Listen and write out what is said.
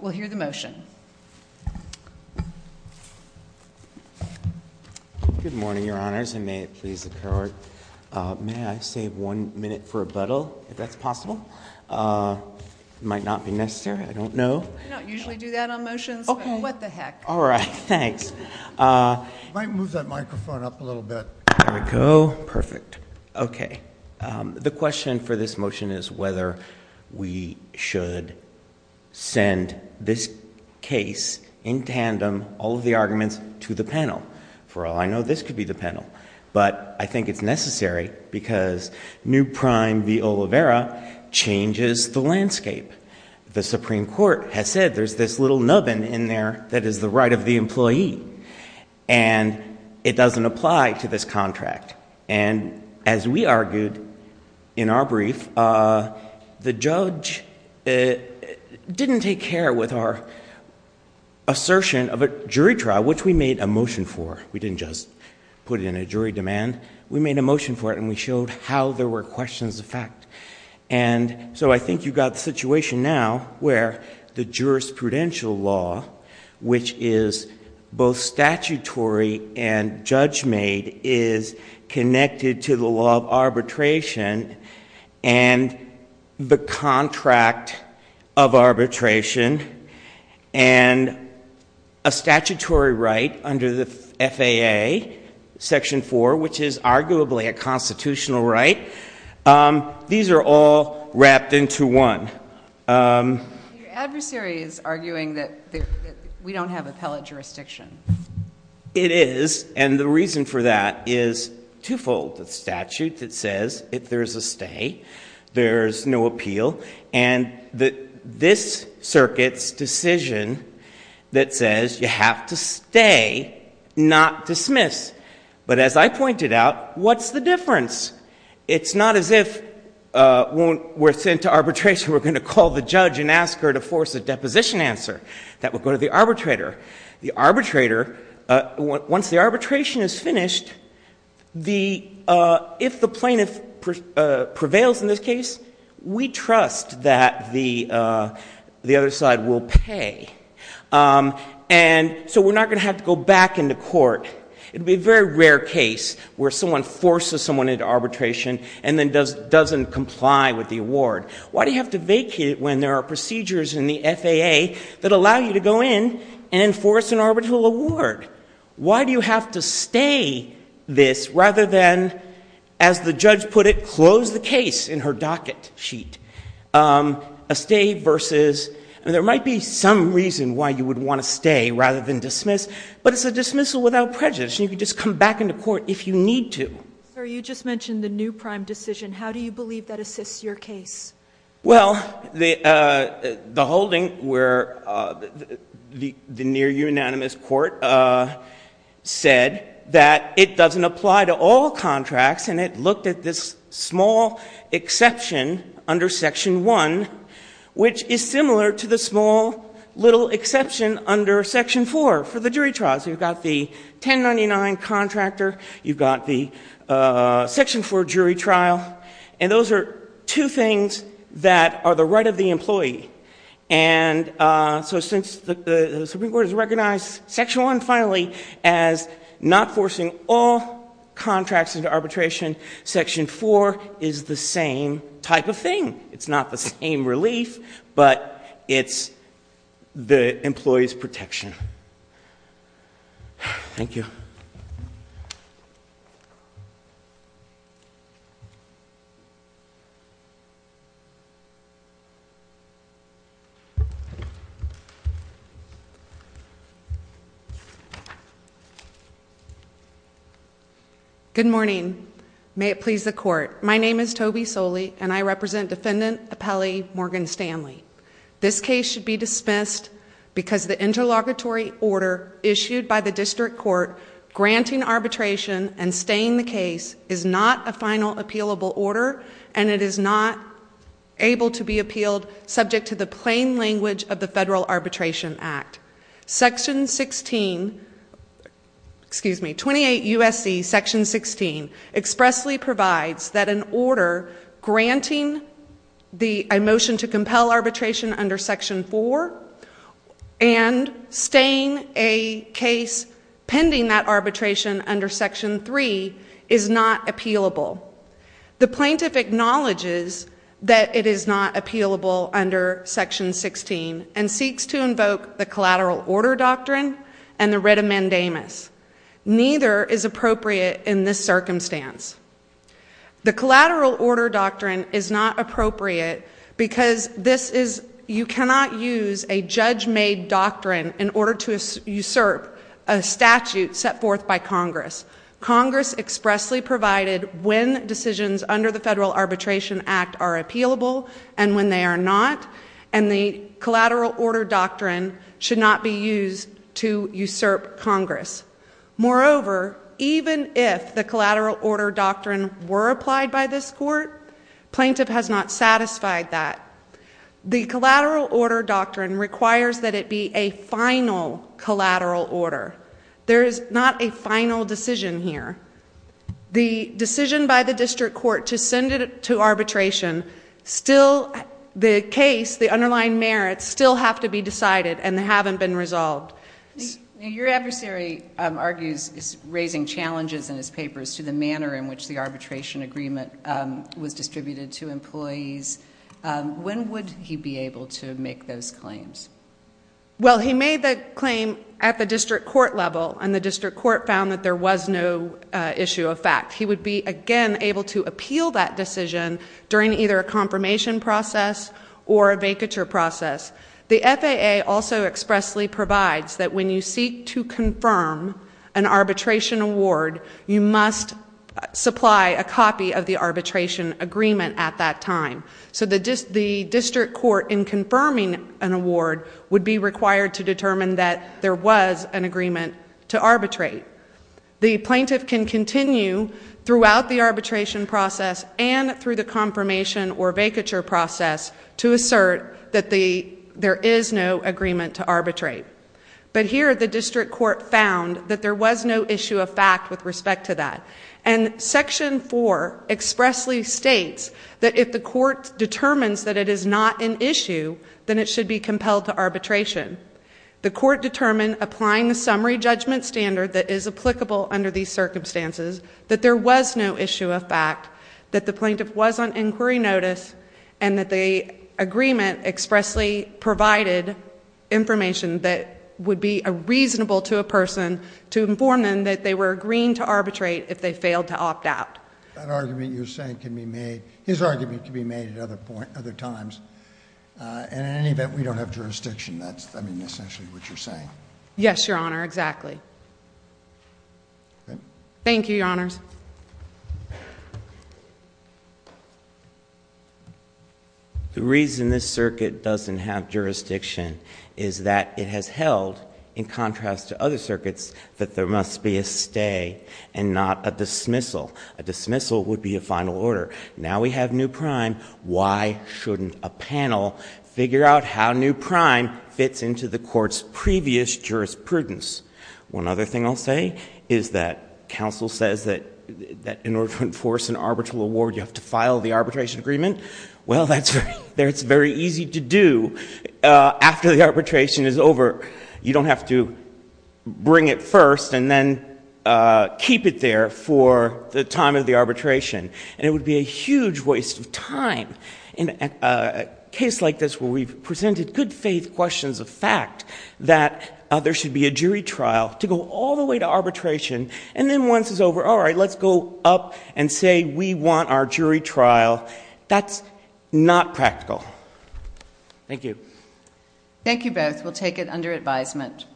We'll hear the motion. Good morning, your honors, and may it please the court, may I save one minute for a buttle, if that's possible? It might not be necessary, I don't know. We don't usually do that on motions, but what the heck. All right, thanks. You might move that microphone up a little bit. There we go. Perfect. Okay. The question for this motion is whether we should send this case in tandem, all of the arguments, to the panel. For all I know, this could be the panel, but I think it's necessary because new prime v. Oliveira changes the landscape. The Supreme Court has said there's this little nubbin in there that is the right of the employee, and it doesn't apply to this contract. And as we argued in our brief, the judge didn't take care with our assertion of a jury trial, which we made a motion for. We didn't just put it in a jury demand. We made a motion for it, and we showed how there were questions of fact. And so I think you've got the situation now where the jurisprudential law, which is both connected to the law of arbitration and the contract of arbitration, and a statutory right under the FAA, Section 4, which is arguably a constitutional right, these are all wrapped into one. Your adversary is arguing that we don't have appellate jurisdiction. It is, and the reason for that is twofold. The statute that says if there's a stay, there's no appeal, and this circuit's decision that says you have to stay, not dismiss. But as I pointed out, what's the difference? It's not as if we're sent to arbitration, we're going to call the judge and ask her to force a deposition answer that would go to the arbitrator. The arbitrator, once the arbitration is finished, if the plaintiff prevails in this case, we trust that the other side will pay. And so we're not going to have to go back into court. It would be a very rare case where someone forces someone into arbitration and then doesn't comply with the award. Why do you have to vacate it when there are procedures in the FAA that allow you to go in and enforce an arbitral award? Why do you have to stay this rather than, as the judge put it, close the case in her docket sheet? A stay versus, and there might be some reason why you would want to stay rather than dismiss, but it's a dismissal without prejudice, and you could just come back into court if you need to. Sir, you just mentioned the new prime decision. How do you believe that assists your case? Well, the holding where the near unanimous court said that it doesn't apply to all contracts, and it looked at this small exception under section one, which is similar to the small little exception under section four for the jury trials. You've got the 1099 contractor, you've got the section four jury trial, and those are two things that are the right of the employee. And so since the Supreme Court has recognized section one, finally, as not forcing all contracts into arbitration, section four is the same type of thing. It's not the same relief, but it's the employee's protection. Thank you. Good morning. May it please the court. My name is Toby Soley, and I represent Defendant Appellee Morgan Stanley. This case should be dismissed because the interlocutory order issued by the district court granting arbitration and staying the case is not a final appealable order, and it is not able to be appealed subject to the plain language of the Federal Arbitration Act. Section 16, excuse me, 28 U.S.C. section 16 expressly provides that an order granting the motion to compel arbitration under section four and staying a case pending that arbitration under section three is not appealable. The plaintiff acknowledges that it is not appealable under section 16 and seeks to invoke the collateral order doctrine and the writ amendamus. Neither is appropriate in this circumstance. The collateral order doctrine is not appropriate because this is, you cannot use a judge made doctrine in order to usurp a statute set forth by Congress. Congress expressly provided when decisions under the Federal Arbitration Act are appealable and when they are not, and the collateral order doctrine should not be used to usurp Congress. Moreover, even if the collateral order doctrine were applied by this court, plaintiff has not satisfied that. The collateral order doctrine requires that it be a final collateral order. There is not a final decision here. The decision by the district court to send it to arbitration still, the case, the underlying merits still have to be decided and haven't been resolved. Your adversary argues, is raising challenges in his papers to the manner in which the arbitration agreement was distributed to employees. When would he be able to make those claims? Well, he made the claim at the district court level and the district court found that there was no issue of fact. He would be, again, able to appeal that decision during either a confirmation process or a vacature process. The FAA also expressly provides that when you seek to confirm an arbitration award, you must supply a copy of the arbitration agreement at that time. So the district court in confirming an award would be required to determine that there was an agreement to arbitrate. The plaintiff can continue throughout the arbitration process and through the confirmation or vacature process to assert that there is no agreement to arbitrate. But here the district court found that there was no issue of fact with respect to that. And section four expressly states that if the court determines that it is not an issue, then it should be compelled to arbitration. The court determined, applying the summary judgment standard that is applicable under these circumstances, that there was no issue of fact, that the plaintiff was on inquiry notice and that the agreement expressly provided information that would be reasonable to a person to inform them that they were agreeing to arbitrate if they failed to opt out. That argument you're saying can be made, his argument can be made at other times, and in essentially what you're saying. Yes, Your Honor, exactly. Thank you, Your Honors. The reason this circuit doesn't have jurisdiction is that it has held in contrast to other circuits that there must be a stay and not a dismissal. A dismissal would be a final order. Now we have new prime. Why shouldn't a panel figure out how new prime fits into the court's previous jurisprudence? One other thing I'll say is that counsel says that in order to enforce an arbitral award, you have to file the arbitration agreement. Well, that's very easy to do after the arbitration is over. You don't have to bring it first and then keep it there for the time of the arbitration. And it would be a huge waste of time in a case like this where we've presented good faith questions of fact that there should be a jury trial to go all the way to arbitration. And then once it's over, all right, let's go up and say we want our jury trial. That's not practical. Thank you. Thank you both. We'll take it under advisement.